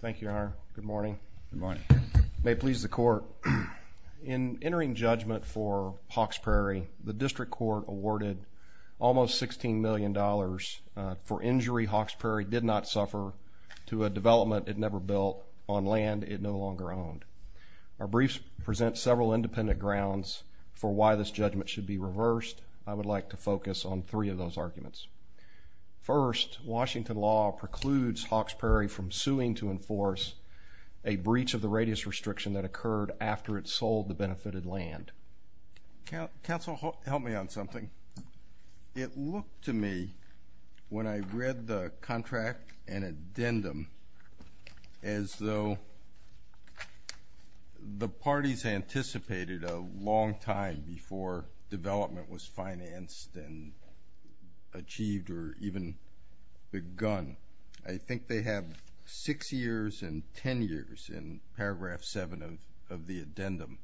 Thank you, Your Honor. Good morning. May it please the Court. In entering judgment for Hawks Prairie, the District Court awarded almost $16 million for injury Hawks Prairie did not suffer to a development it never built on land it no longer owned. Our briefs present several independent grounds for why this judgment should be reversed. I would like to focus on three of those arguments. First, Washington law precludes Hawks Prairie from suing to enforce a breach of the radius restriction that occurred after it sold the benefited land. Counsel, help me on something. It looked to me when I read the contract and addendum as though the parties anticipated a long time before development was financed and achieved or even begun. I think they have 6 years and 10 years in paragraph 7 of the addendum.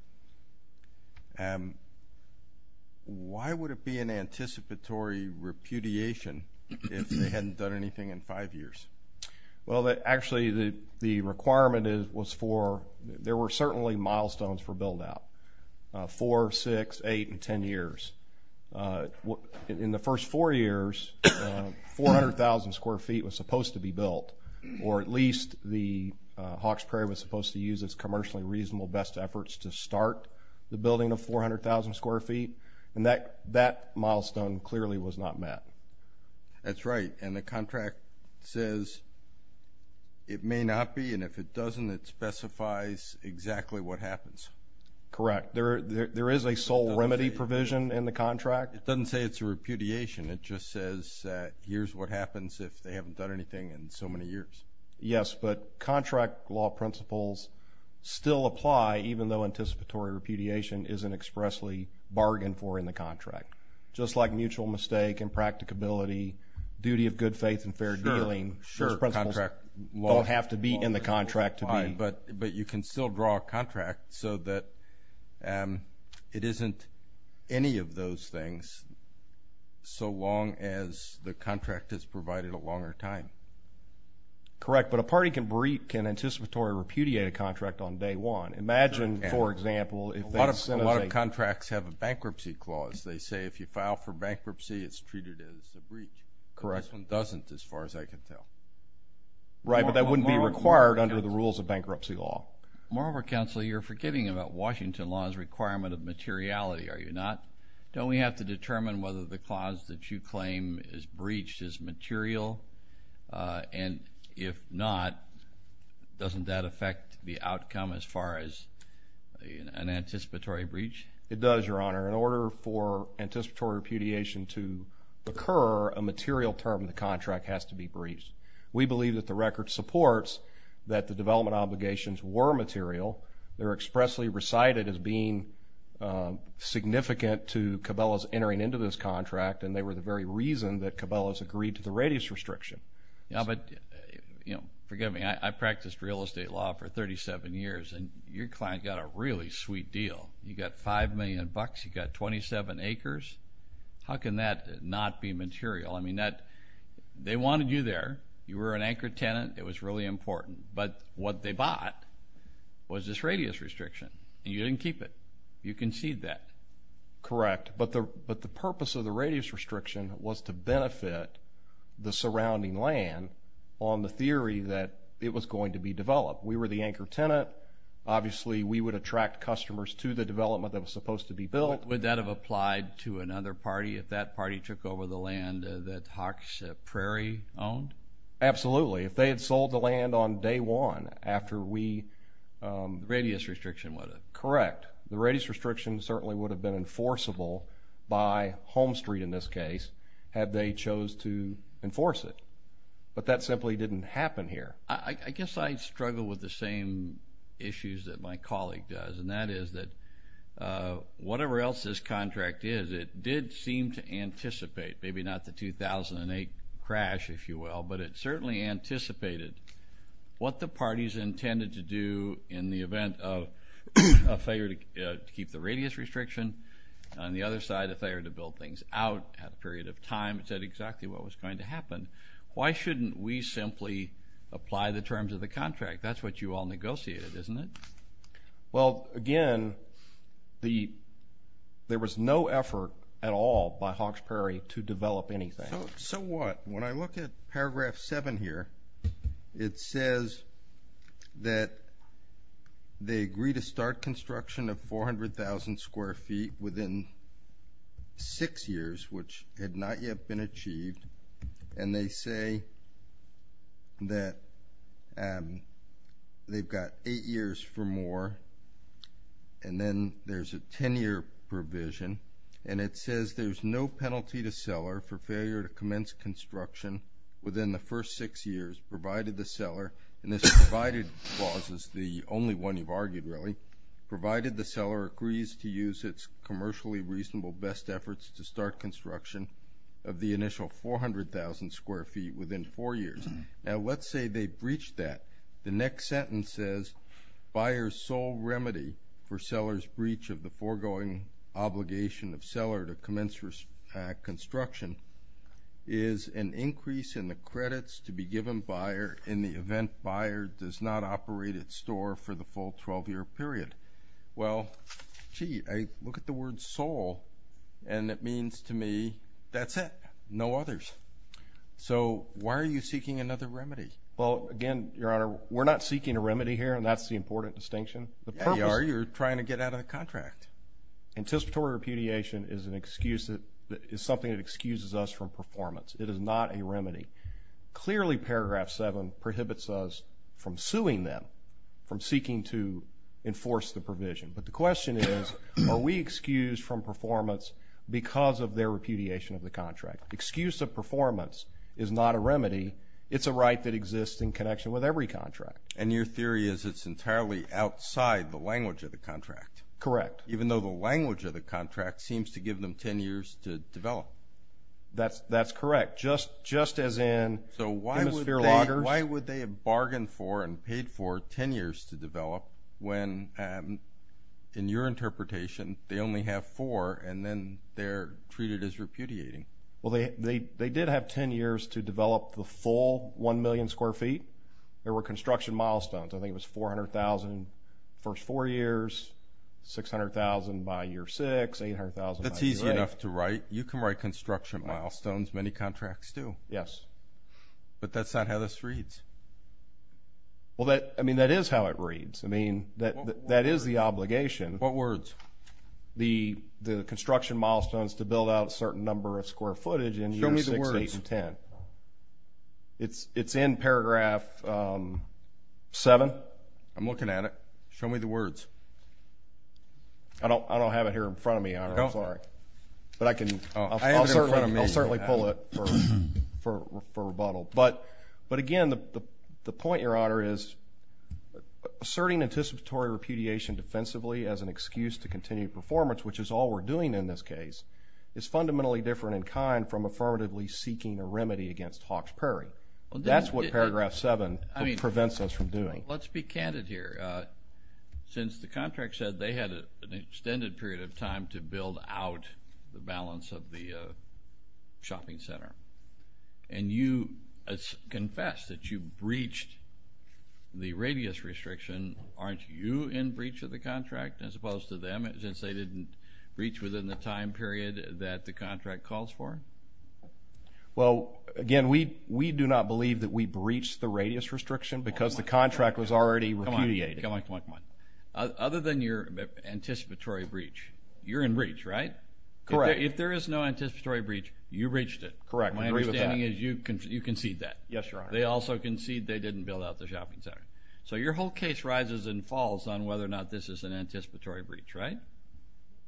Why would it be an anticipatory repudiation if they hadn't done anything in 5 years? Well, actually, the requirement was for – there were certainly milestones for build-out, 4, 6, 8, and 10 years. In the first 4 years, 400,000 square feet was supposed to be built or at least Hawks Prairie was supposed to use its commercially reasonable best efforts to start the building of 400,000 square feet. And that milestone clearly was not met. That's right. And the contract says it may not be. And if it doesn't, it specifies exactly what happens. Correct. There is a sole remedy provision in the contract. It doesn't say it's a repudiation. It just says here's what happens if they haven't done anything in so many years. Yes, but contract law principles still apply even though anticipatory repudiation isn't expressly bargained for in the contract. Just like mutual mistake, impracticability, duty of good faith, and fair dealing, those principles don't have to be in the contract. Right, but you can still draw a contract so that it isn't any of those things so long as the contract is provided a longer time. Correct, but a party can anticipatory repudiate a contract on day one. A lot of contracts have a bankruptcy clause. They say if you file for bankruptcy, it's treated as a breach. Correct. This one doesn't as far as I can tell. Right, but that wouldn't be required under the rules of bankruptcy law. Moreover, counsel, you're forgetting about Washington law's requirement of materiality, are you not? Don't we have to determine whether the clause that you claim is breached is material? And if not, doesn't that affect the outcome as far as an anticipatory breach? It does, Your Honor. In order for anticipatory repudiation to occur, a material term in the contract has to be breached. We believe that the record supports that the development obligations were material. They're expressly recited as being significant to Cabela's entering into this contract, and they were the very reason that Cabela's agreed to the radius restriction. But, you know, forgive me, I practiced real estate law for 37 years, and your client got a really sweet deal. You got $5 million, you got 27 acres. How can that not be material? I mean, they wanted you there. You were an anchor tenant. It was really important. But what they bought was this radius restriction, and you didn't keep it. You conceded that. Correct, but the purpose of the radius restriction was to benefit the surrounding land on the theory that it was going to be developed. We were the anchor tenant. Obviously, we would attract customers to the development that was supposed to be built. Would that have applied to another party if that party took over the land that Hawks Prairie owned? Absolutely. If they had sold the land on day one after we… The radius restriction would have. Correct. The radius restriction certainly would have been enforceable by Home Street, in this case, had they chose to enforce it. But that simply didn't happen here. I guess I struggle with the same issues that my colleague does, and that is that whatever else this contract is, it did seem to anticipate, maybe not the 2008 crash, if you will, but it certainly anticipated what the parties intended to do in the event of a failure to keep the radius restriction. On the other side, a failure to build things out at a period of time. You said exactly what was going to happen. Why shouldn't we simply apply the terms of the contract? That's what you all negotiated, isn't it? Well, again, there was no effort at all by Hawks Prairie to develop anything. So what? When I look at paragraph seven here, it says that they agreed to start construction of 400,000 square feet within six years, which had not yet been achieved. And they say that they've got eight years for more. And then there's a 10-year provision. And it says there's no penalty to seller for failure to commence construction within the first six years, provided the seller, and this provided clause is the only one you've argued, really, provided the seller agrees to use its commercially reasonable best efforts to start construction of the initial 400,000 square feet within four years. Now, let's say they breached that. The next sentence says, buyer's sole remedy for seller's breach of the foregoing obligation of seller to commence construction is an increase in the credits to be given buyer in the event buyer does not operate its store for the full 12-year period. Well, gee, I look at the word sole, and it means to me, that's it, no others. So why are you seeking another remedy? Well, again, Your Honor, we're not seeking a remedy here, and that's the important distinction. You are. You're trying to get out of the contract. Anticipatory repudiation is something that excuses us from performance. It is not a remedy. Clearly, Paragraph 7 prohibits us from suing them, from seeking to enforce the provision. But the question is, are we excused from performance because of their repudiation of the contract? Excuse of performance is not a remedy. It's a right that exists in connection with every contract. And your theory is it's entirely outside the language of the contract. Correct. That's correct, just as in hemisphere loggers. So why would they have bargained for and paid for 10 years to develop when, in your interpretation, they only have four and then they're treated as repudiating? Well, they did have 10 years to develop the full 1 million square feet. There were construction milestones. I think it was 400,000 the first four years, 600,000 by year six, 800,000 by year eight. That's easy enough to write. You can write construction milestones. Many contracts do. Yes. But that's not how this reads. Well, I mean, that is how it reads. I mean, that is the obligation. What words? The construction milestones to build out a certain number of square footage in year six, eight, and 10. Show me the words. It's in Paragraph 7. I'm looking at it. Show me the words. I don't have it here in front of me, Your Honor. I'm sorry. But I can. I have it in front of me. I'll certainly pull it for rebuttal. But, again, the point, Your Honor, is asserting anticipatory repudiation defensively as an excuse to continue performance, which is all we're doing in this case, is fundamentally different in kind from affirmatively seeking a remedy against Hawks Perry. That's what Paragraph 7 prevents us from doing. Let's be candid here. Since the contract said they had an extended period of time to build out the balance of the shopping center and you confessed that you breached the radius restriction, aren't you in breach of the contract as opposed to them, since they didn't breach within the time period that the contract calls for? Well, again, we do not believe that we breached the radius restriction because the contract was already repudiated. Come on, come on, come on. Other than your anticipatory breach, you're in breach, right? Correct. If there is no anticipatory breach, you breached it. Correct. I agree with that. My understanding is you conceded that. Yes, Your Honor. They also conceded they didn't build out the shopping center. So your whole case rises and falls on whether or not this is an anticipatory breach, right?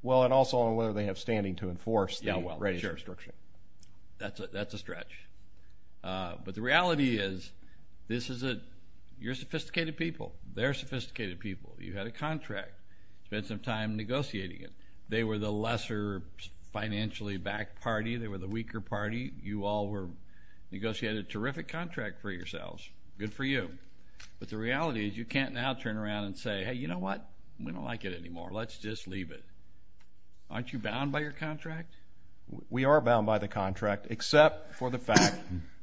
Well, and also on whether they have standing to enforce the radius restriction. That's a stretch. But the reality is you're sophisticated people. They're sophisticated people. You had a contract. You spent some time negotiating it. They were the lesser financially backed party. They were the weaker party. You all negotiated a terrific contract for yourselves. Good for you. But the reality is you can't now turn around and say, hey, you know what? We don't like it anymore. Let's just leave it. Aren't you bound by your contract? We are bound by the contract except for the fact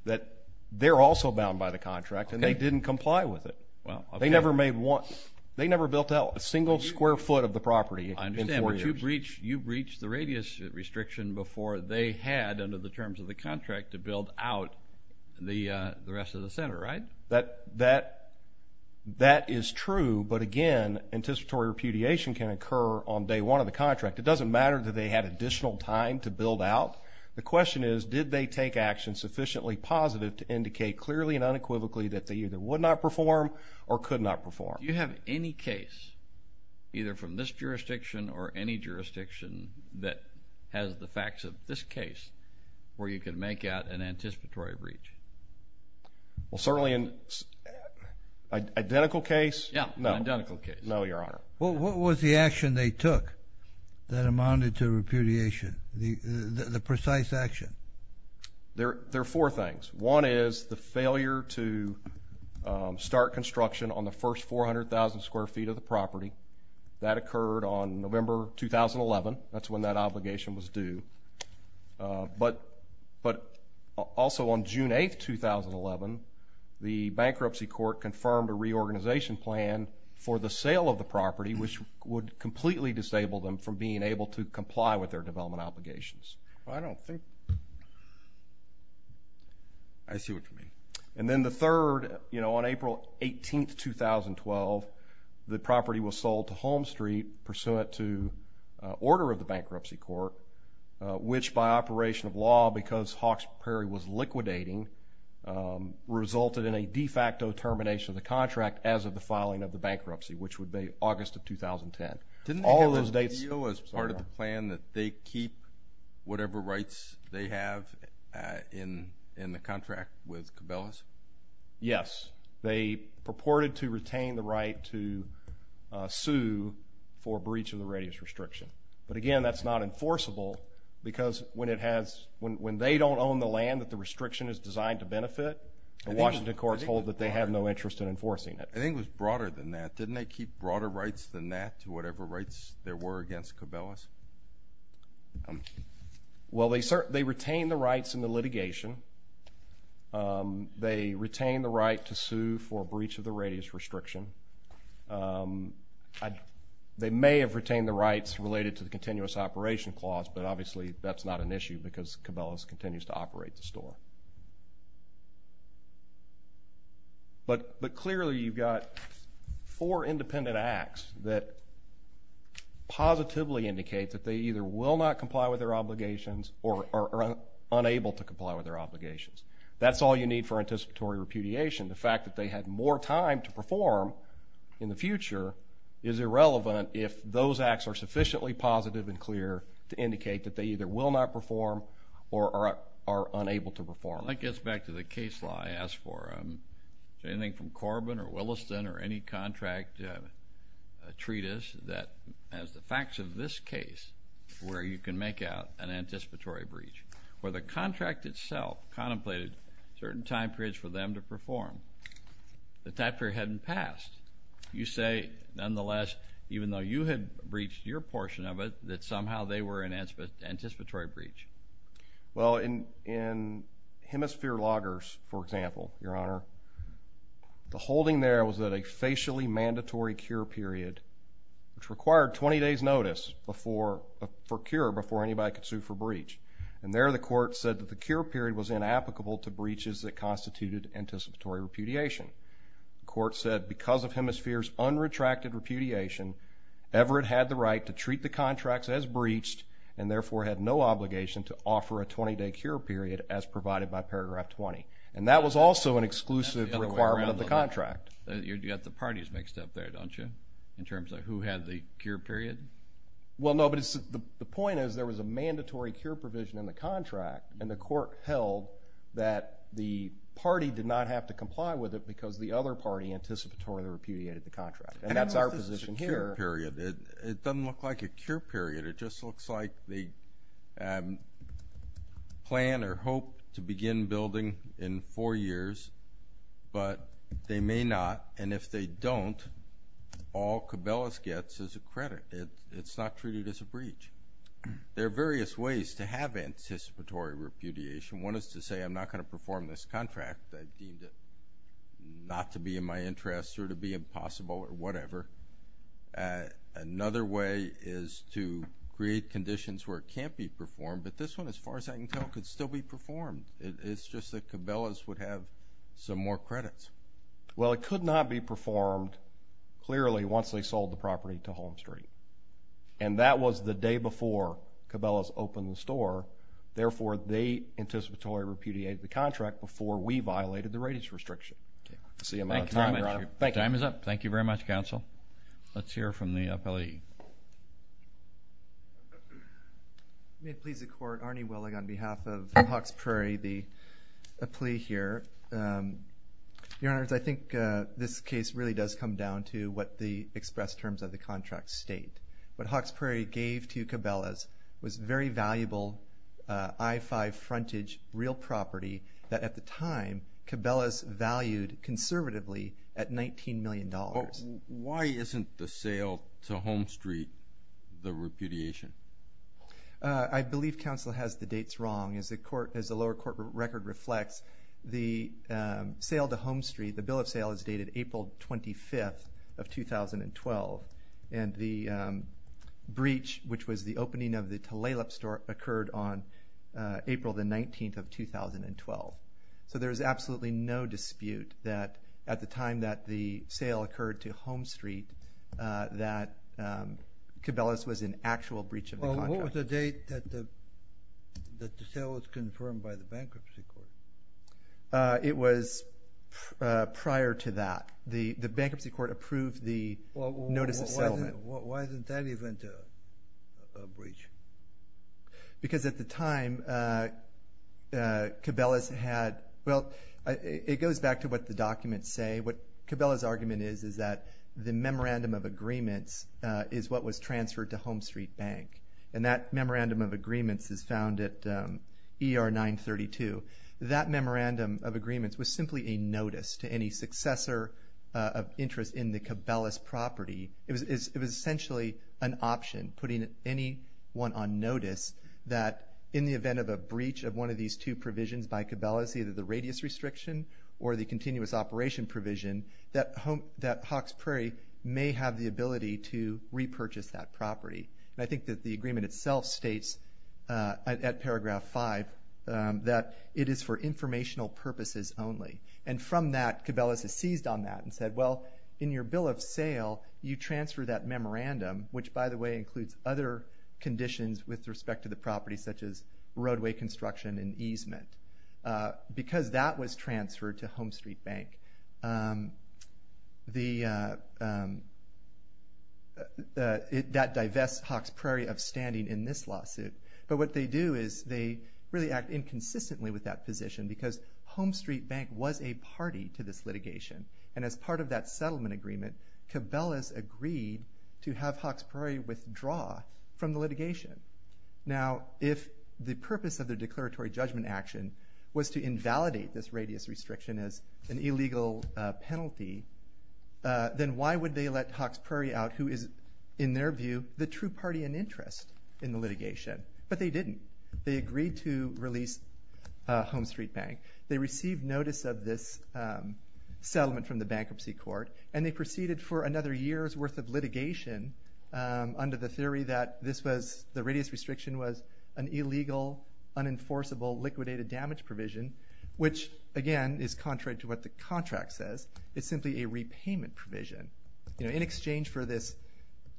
that they're also bound by the contract and they didn't comply with it. They never built out a single square foot of the property in four years. I understand. But you breached the radius restriction before they had under the terms of the contract to build out the rest of the center, right? That is true. But, again, anticipatory repudiation can occur on day one of the contract. It doesn't matter that they had additional time to build out. The question is did they take action sufficiently positive to indicate clearly and unequivocally that they either would not perform or could not perform? Do you have any case, either from this jurisdiction or any jurisdiction, that has the facts of this case where you could make out an anticipatory breach? Well, certainly in identical case, no. In identical case. No, Your Honor. What was the action they took that amounted to repudiation, the precise action? There are four things. One is the failure to start construction on the first 400,000 square feet of the property. That occurred on November 2011. That's when that obligation was due. But also on June 8, 2011, the bankruptcy court confirmed a reorganization plan for the sale of the property, which would completely disable them from being able to comply with their development obligations. I don't think. I see what you mean. And then the third, you know, on April 18, 2012, the property was sold to Home Street pursuant to order of the bankruptcy court, which by operation of law, because Hawkes Prairie was liquidating, resulted in a de facto termination of the contract as of the filing of the bankruptcy, which would be August of 2010. Didn't they have this deal as part of the plan that they keep whatever rights they have in the contract with Cabela's? Yes. They purported to retain the right to sue for breach of the radius restriction. But, again, that's not enforceable because when they don't own the land that the restriction is designed to benefit, the Washington courts hold that they have no interest in enforcing it. I think it was broader than that. Didn't they keep broader rights than that to whatever rights there were against Cabela's? Well, they retained the rights in the litigation. They retained the right to sue for breach of the radius restriction. They may have retained the rights related to the continuous operation clause, but obviously that's not an issue because Cabela's continues to operate the store. But clearly you've got four independent acts that positively indicate that they either will not comply with their obligations or are unable to comply with their obligations. That's all you need for anticipatory repudiation. The fact that they had more time to perform in the future is irrelevant if those acts are sufficiently positive and clear to indicate that they either will not perform or are unable to perform. That gets back to the case law I asked for. Is there anything from Corbin or Williston or any contract treatise that has the facts of this case where you can make out an anticipatory breach? Where the contract itself contemplated certain time periods for them to perform, the time period hadn't passed. You say, nonetheless, even though you had breached your portion of it, that somehow they were an anticipatory breach. Well, in Hemisphere Loggers, for example, Your Honor, the holding there was at a facially mandatory cure period, which required 20 days' notice for cure before anybody could sue for breach. And there the court said that the cure period was inapplicable to breaches that constituted anticipatory repudiation. The court said because of Hemisphere's unretracted repudiation, Everett had the right to treat the contracts as breached and therefore had no obligation to offer a 20-day cure period as provided by Paragraph 20. And that was also an exclusive requirement of the contract. You've got the parties mixed up there, don't you, in terms of who had the cure period? Well, no, but the point is there was a mandatory cure provision in the contract, and the court held that the party did not have to comply with it because the other party anticipatorily repudiated the contract. And that's our position here. How is this a cure period? It doesn't look like a cure period. It just looks like they plan or hope to begin building in four years, but they may not, and if they don't, all Cabelas gets is a credit. It's not treated as a breach. There are various ways to have anticipatory repudiation. One is to say I'm not going to perform this contract. I deemed it not to be in my interest or to be impossible or whatever. Another way is to create conditions where it can't be performed, but this one, as far as I can tell, could still be performed. It's just that Cabelas would have some more credits. Well, it could not be performed, clearly, once they sold the property to Holmstreet, and that was the day before Cabelas opened the store. Therefore, they anticipatorily repudiated the contract before we violated the ratings restriction. That's the amount of time. Your time is up. Thank you very much, counsel. Let's hear from the appellee. May it please the Court, Arnie Willig on behalf of Hawkes Prairie, the appellee here. Your Honors, I think this case really does come down to what the express terms of the contract state. What Hawkes Prairie gave to Cabelas was very valuable I-5 frontage real property that at the time Cabelas valued conservatively at $19 million. Why isn't the sale to Holmstreet the repudiation? I believe counsel has the dates wrong. As the lower court record reflects, the sale to Holmstreet, the bill of sale is dated April 25th of 2012, and the breach, which was the opening of the Tulalip store, occurred on April 19th of 2012. So there is absolutely no dispute that at the time that the sale occurred to Holmstreet that Cabelas was in actual breach of the contract. What was the date that the sale was confirmed by the bankruptcy court? It was prior to that. The bankruptcy court approved the notice of settlement. Why isn't that event a breach? Because at the time Cabelas had, well, it goes back to what the documents say. What Cabelas' argument is is that the memorandum of agreements is what was transferred to Holmstreet Bank, and that memorandum of agreements is found at ER 932. That memorandum of agreements was simply a notice to any successor of interest in the Cabelas property. It was essentially an option putting anyone on notice that in the event of a breach of one of these two provisions by Cabelas, either the radius restriction or the continuous operation provision, that Hawkes Prairie may have the ability to repurchase that property. And I think that the agreement itself states at paragraph 5 that it is for informational purposes only. In your bill of sale, you transfer that memorandum, which, by the way, includes other conditions with respect to the property, such as roadway construction and easement, because that was transferred to Holmstreet Bank. That divests Hawkes Prairie of standing in this lawsuit. But what they do is they really act inconsistently with that position because Holmstreet Bank was a party to this litigation. And as part of that settlement agreement, Cabelas agreed to have Hawkes Prairie withdraw from the litigation. Now, if the purpose of the declaratory judgment action was to invalidate this radius restriction as an illegal penalty, then why would they let Hawkes Prairie out, who is, in their view, the true party in interest in the litigation? But they didn't. They agreed to release Holmstreet Bank. They received notice of this settlement from the bankruptcy court, and they proceeded for another year's worth of litigation under the theory that the radius restriction was an illegal, unenforceable, liquidated damage provision, which, again, is contrary to what the contract says. It's simply a repayment provision. In exchange for this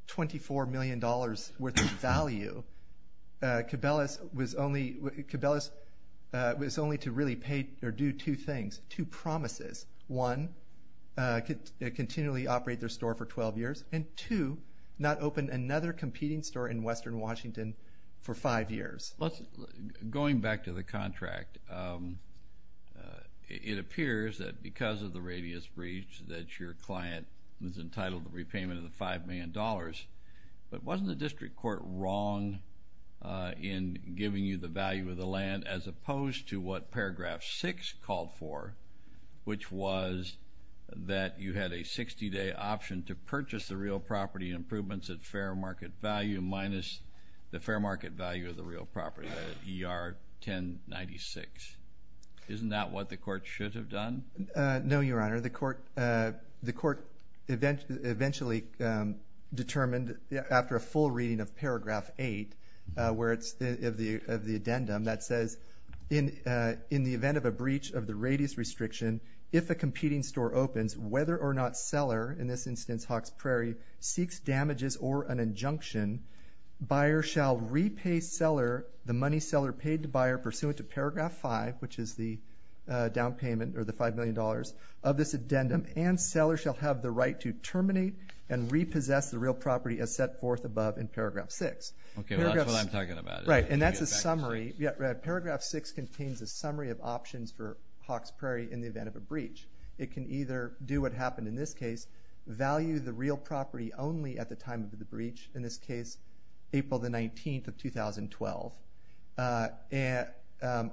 $24 million worth of value, Cabelas was only to really pay or do two things, two promises. One, continually operate their store for 12 years, and two, not open another competing store in western Washington for five years. Going back to the contract, it appears that because of the radius breach that your client was entitled to repayment of the $5 million. But wasn't the district court wrong in giving you the value of the land as opposed to what Paragraph 6 called for, which was that you had a 60-day option to purchase the real property improvements at fair market value minus the fair market value of the real property at ER 1096? Isn't that what the court should have done? No, Your Honor. The court eventually determined, after a full reading of Paragraph 8, where it's of the addendum that says, in the event of a breach of the radius restriction, if a competing store opens, whether or not seller, in this instance Hawks Prairie, seeks damages or an injunction, buyer shall repay seller the money seller paid to buyer pursuant to Paragraph 5, which is the down payment or the $5 million of this addendum, and seller shall have the right to terminate and repossess the real property as set forth above in Paragraph 6. Okay, that's what I'm talking about. Right, and that's a summary. Paragraph 6 contains a summary of options for Hawks Prairie in the event of a breach. It can either do what happened in this case, value the real property only at the time of the breach, in this case, April 19, 2012,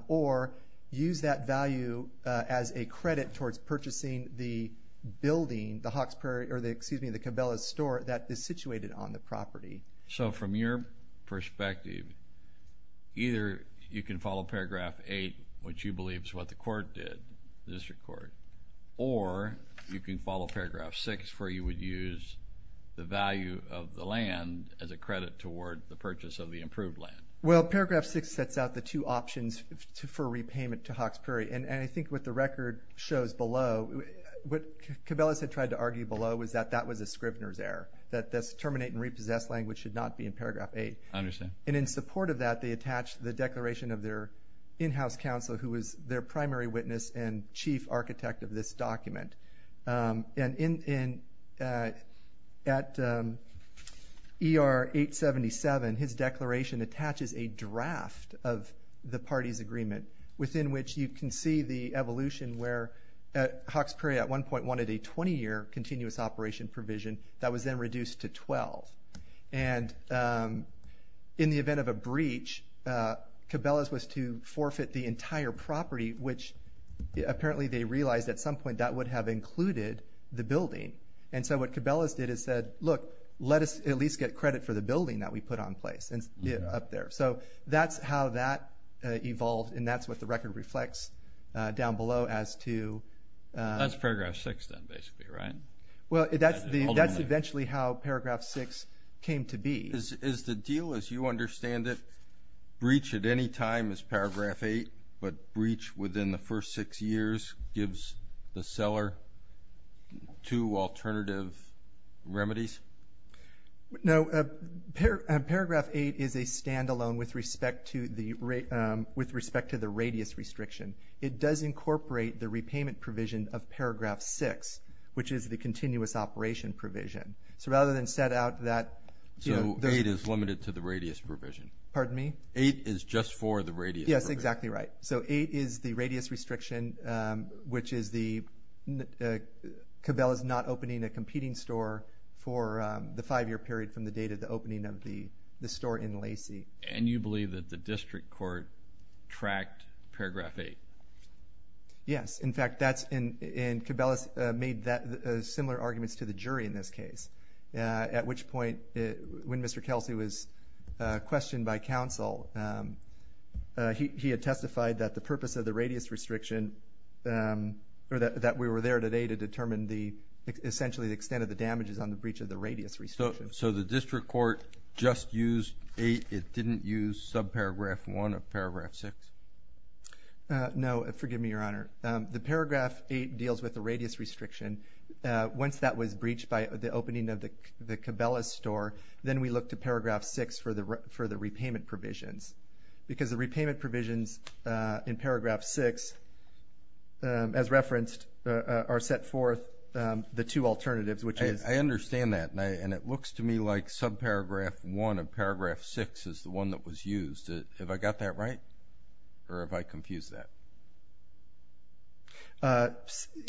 or use that value as a credit towards purchasing the building, the Hawks Prairie, or excuse me, the Cabela's store, that is situated on the property. So from your perspective, either you can follow Paragraph 8, which you believe is what the court did, the district court, or you can follow Paragraph 6, where you would use the value of the land as a credit toward the purchase of the improved land. Well, Paragraph 6 sets out the two options for repayment to Hawks Prairie, and I think what the record shows below, what Cabela's had tried to argue below was that that was a Scribner's error, that this terminate and repossess language should not be in Paragraph 8. I understand. And in support of that, they attached the declaration of their in-house counselor, who was their primary witness and chief architect of this document. And at ER 877, his declaration attaches a draft of the party's agreement, within which you can see the evolution where Hawks Prairie at one point wanted a 20-year continuous operation provision that was then reduced to 12. And in the event of a breach, Cabela's was to forfeit the entire property, which apparently they realized at some point that would have included the building. And so what Cabela's did is said, look, let us at least get credit for the building that we put on place up there. So that's how that evolved, and that's what the record reflects down below as to. That's Paragraph 6 then, basically, right? Well, that's eventually how Paragraph 6 came to be. Is the deal, as you understand it, a breach at any time as Paragraph 8, but breach within the first six years gives the seller two alternative remedies? No. Paragraph 8 is a standalone with respect to the radius restriction. It does incorporate the repayment provision of Paragraph 6, which is the continuous operation provision. So rather than set out that. So 8 is limited to the radius provision. Pardon me? 8 is just for the radius. Yes, exactly right. So 8 is the radius restriction, which is Cabela's not opening a competing store for the five-year period from the date of the opening of the store in Lacey. And you believe that the district court tracked Paragraph 8? Yes. In fact, Cabela's made similar arguments to the jury in this case, at which point when Mr. Kelsey was questioned by counsel, he had testified that the purpose of the radius restriction, or that we were there today to determine essentially the extent of the damages on the breach of the radius restriction. So the district court just used 8. It didn't use subparagraph 1 of Paragraph 6? No. Forgive me, Your Honor. The Paragraph 8 deals with the radius restriction. Once that was breached by the opening of the Cabela's store, then we look to Paragraph 6 for the repayment provisions. Because the repayment provisions in Paragraph 6, as referenced, are set forth the two alternatives, which is. I understand that, and it looks to me like subparagraph 1 of Paragraph 6 is the one that was used. Have I got that right, or have I confused that?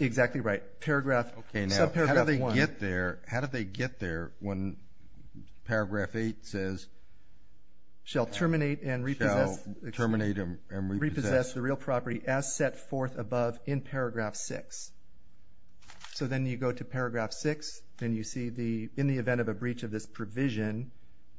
Exactly right. Subparagraph 1. How did they get there when Paragraph 8 says. Shall terminate and repossess the real property as set forth above in Paragraph 6. So then you go to Paragraph 6, and you see in the event of a breach of this provision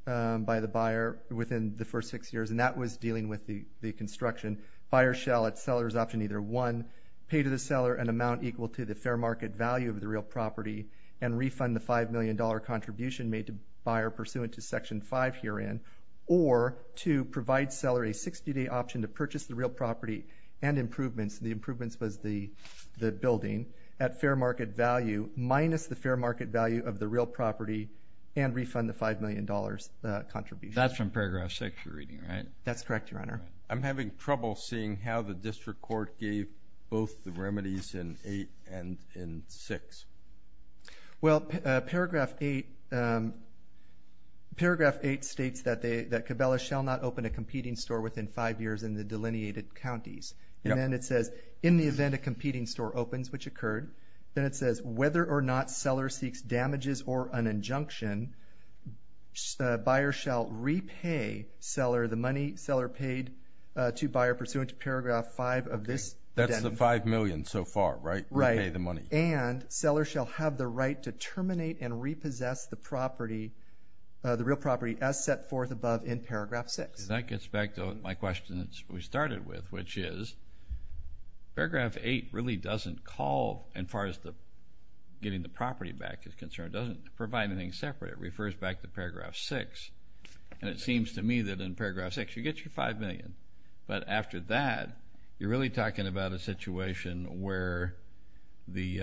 by the buyer within the first six years, and that was dealing with the construction. Buyer shall at seller's option either 1 pay to the seller an amount equal to the fair market value of the real property and refund the $5 million contribution made to buyer pursuant to Section 5 herein, or to provide seller a 60-day option to purchase the real property and improvements. The improvements was the building at fair market value minus the fair market value of the real property and refund the $5 million contribution. That's from Paragraph 6 you're reading, right? That's correct, Your Honor. I'm having trouble seeing how the district court gave both the remedies in 8 and in 6. Well, Paragraph 8 states that Cabela shall not open a competing store within five years in the delineated counties. And then it says in the event a competing store opens, which occurred, then it says whether or not seller seeks damages or an injunction, buyer shall repay seller the money seller paid to buyer pursuant to Paragraph 5 of this. That's the $5 million so far, right? Right. Repay the money. And seller shall have the right to terminate and repossess the property, the real property as set forth above in Paragraph 6. That gets back to my question that we started with, which is Paragraph 8 really doesn't call as far as getting the property back is concerned. It doesn't provide anything separate. It refers back to Paragraph 6. And it seems to me that in Paragraph 6 you get your $5 million. But after that, you're really talking about a situation where the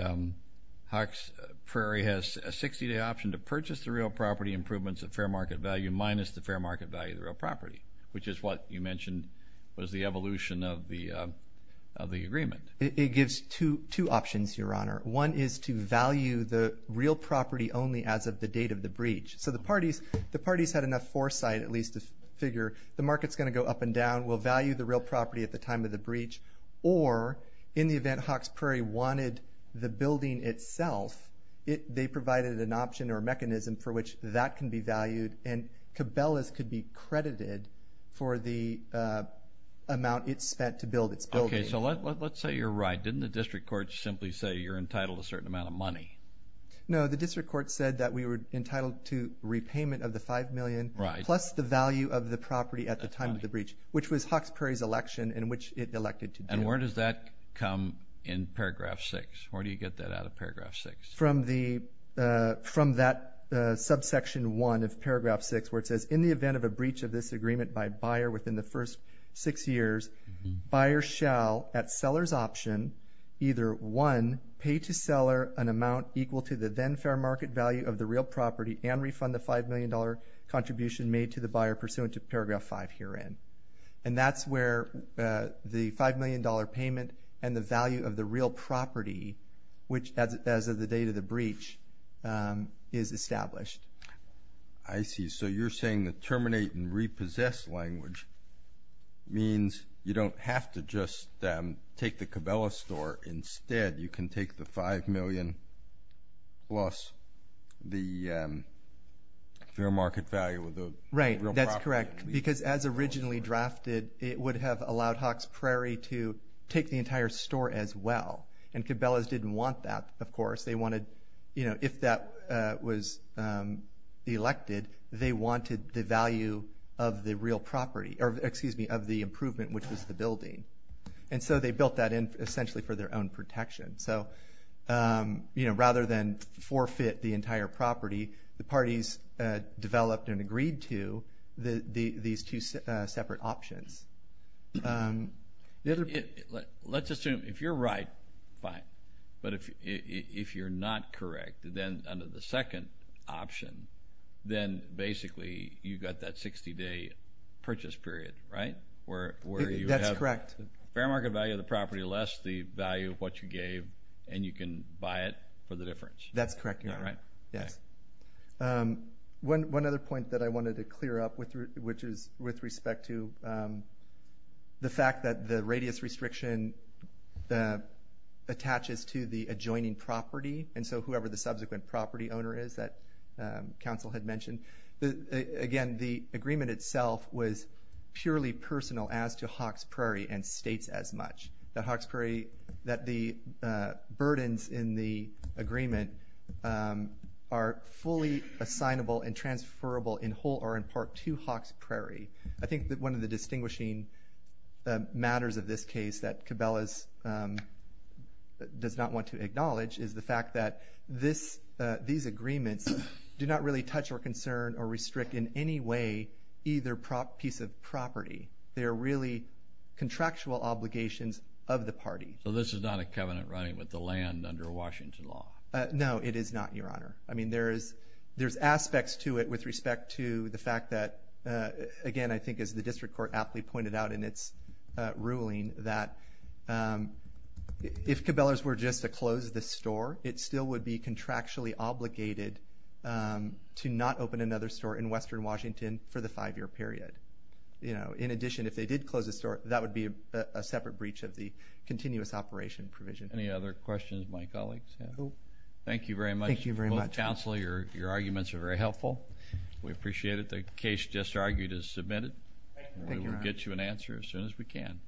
Hawks Prairie has a 60-day option to purchase the real property improvements at fair market value minus the fair market value of the real property, which is what you mentioned was the evolution of the agreement. It gives two options, Your Honor. One is to value the real property only as of the date of the breach. So the parties had enough foresight at least to figure the market's going to go up and down. We'll value the real property at the time of the breach. Or in the event Hawks Prairie wanted the building itself, they provided an option or a mechanism for which that can be valued. And Cabela's could be credited for the amount it spent to build its building. Okay. So let's say you're right. Didn't the district court simply say you're entitled to a certain amount of money? No. The district court said that we were entitled to repayment of the $5 million plus the value of the property at the time of the breach, which was Hawks Prairie's election in which it elected to do. And where does that come in Paragraph 6? Where do you get that out of Paragraph 6? From that subsection 1 of Paragraph 6 where it says, in the event of a breach of this agreement by a buyer within the first six years, buyer shall at seller's option either one, pay to seller an amount equal to the then fair market value of the real property and refund the $5 million contribution made to the buyer pursuant to Paragraph 5 herein. And that's where the $5 million payment and the value of the real property, which as of the date of the breach, is established. I see. So you're saying the terminate and repossess language means you don't have to just take the Cabela's store. Instead, you can take the $5 million plus the fair market value of the real property. Right. That's correct because as originally drafted, it would have allowed Hawks Prairie to take the entire store as well. And Cabela's didn't want that, of course. If that was elected, they wanted the value of the improvement, which was the building. And so they built that in essentially for their own protection. So rather than forfeit the entire property, the parties developed and agreed to these two separate options. Let's assume if you're right, fine. But if you're not correct, then under the second option, then basically you've got that 60-day purchase period, right? That's correct. Fair market value of the property less the value of what you gave, and you can buy it for the difference. That's correct. One other point that I wanted to clear up, which is with respect to the fact that the radius restriction attaches to the adjoining property, and so whoever the subsequent property owner is that Council had mentioned, again, the agreement itself was purely personal as to Hawks Prairie and states as much. The Hawks Prairie, that the burdens in the agreement are fully assignable and transferable in part to Hawks Prairie. I think that one of the distinguishing matters of this case that Cabela's does not want to acknowledge is the fact that these agreements do not really touch or concern or restrict in any way either piece of property. They are really contractual obligations of the party. So this is not a covenant running with the land under Washington law? No, it is not, Your Honor. I mean, there's aspects to it with respect to the fact that, again, I think as the District Court aptly pointed out in its ruling, that if Cabela's were just to close the store, it still would be contractually obligated to not open another store in western Washington for the five-year period. In addition, if they did close the store, that would be a separate breach of the continuous operation provision. Any other questions of my colleagues? Thank you very much. Counsel, your arguments are very helpful. We appreciate it. The case just argued is submitted. We will get you an answer as soon as we can.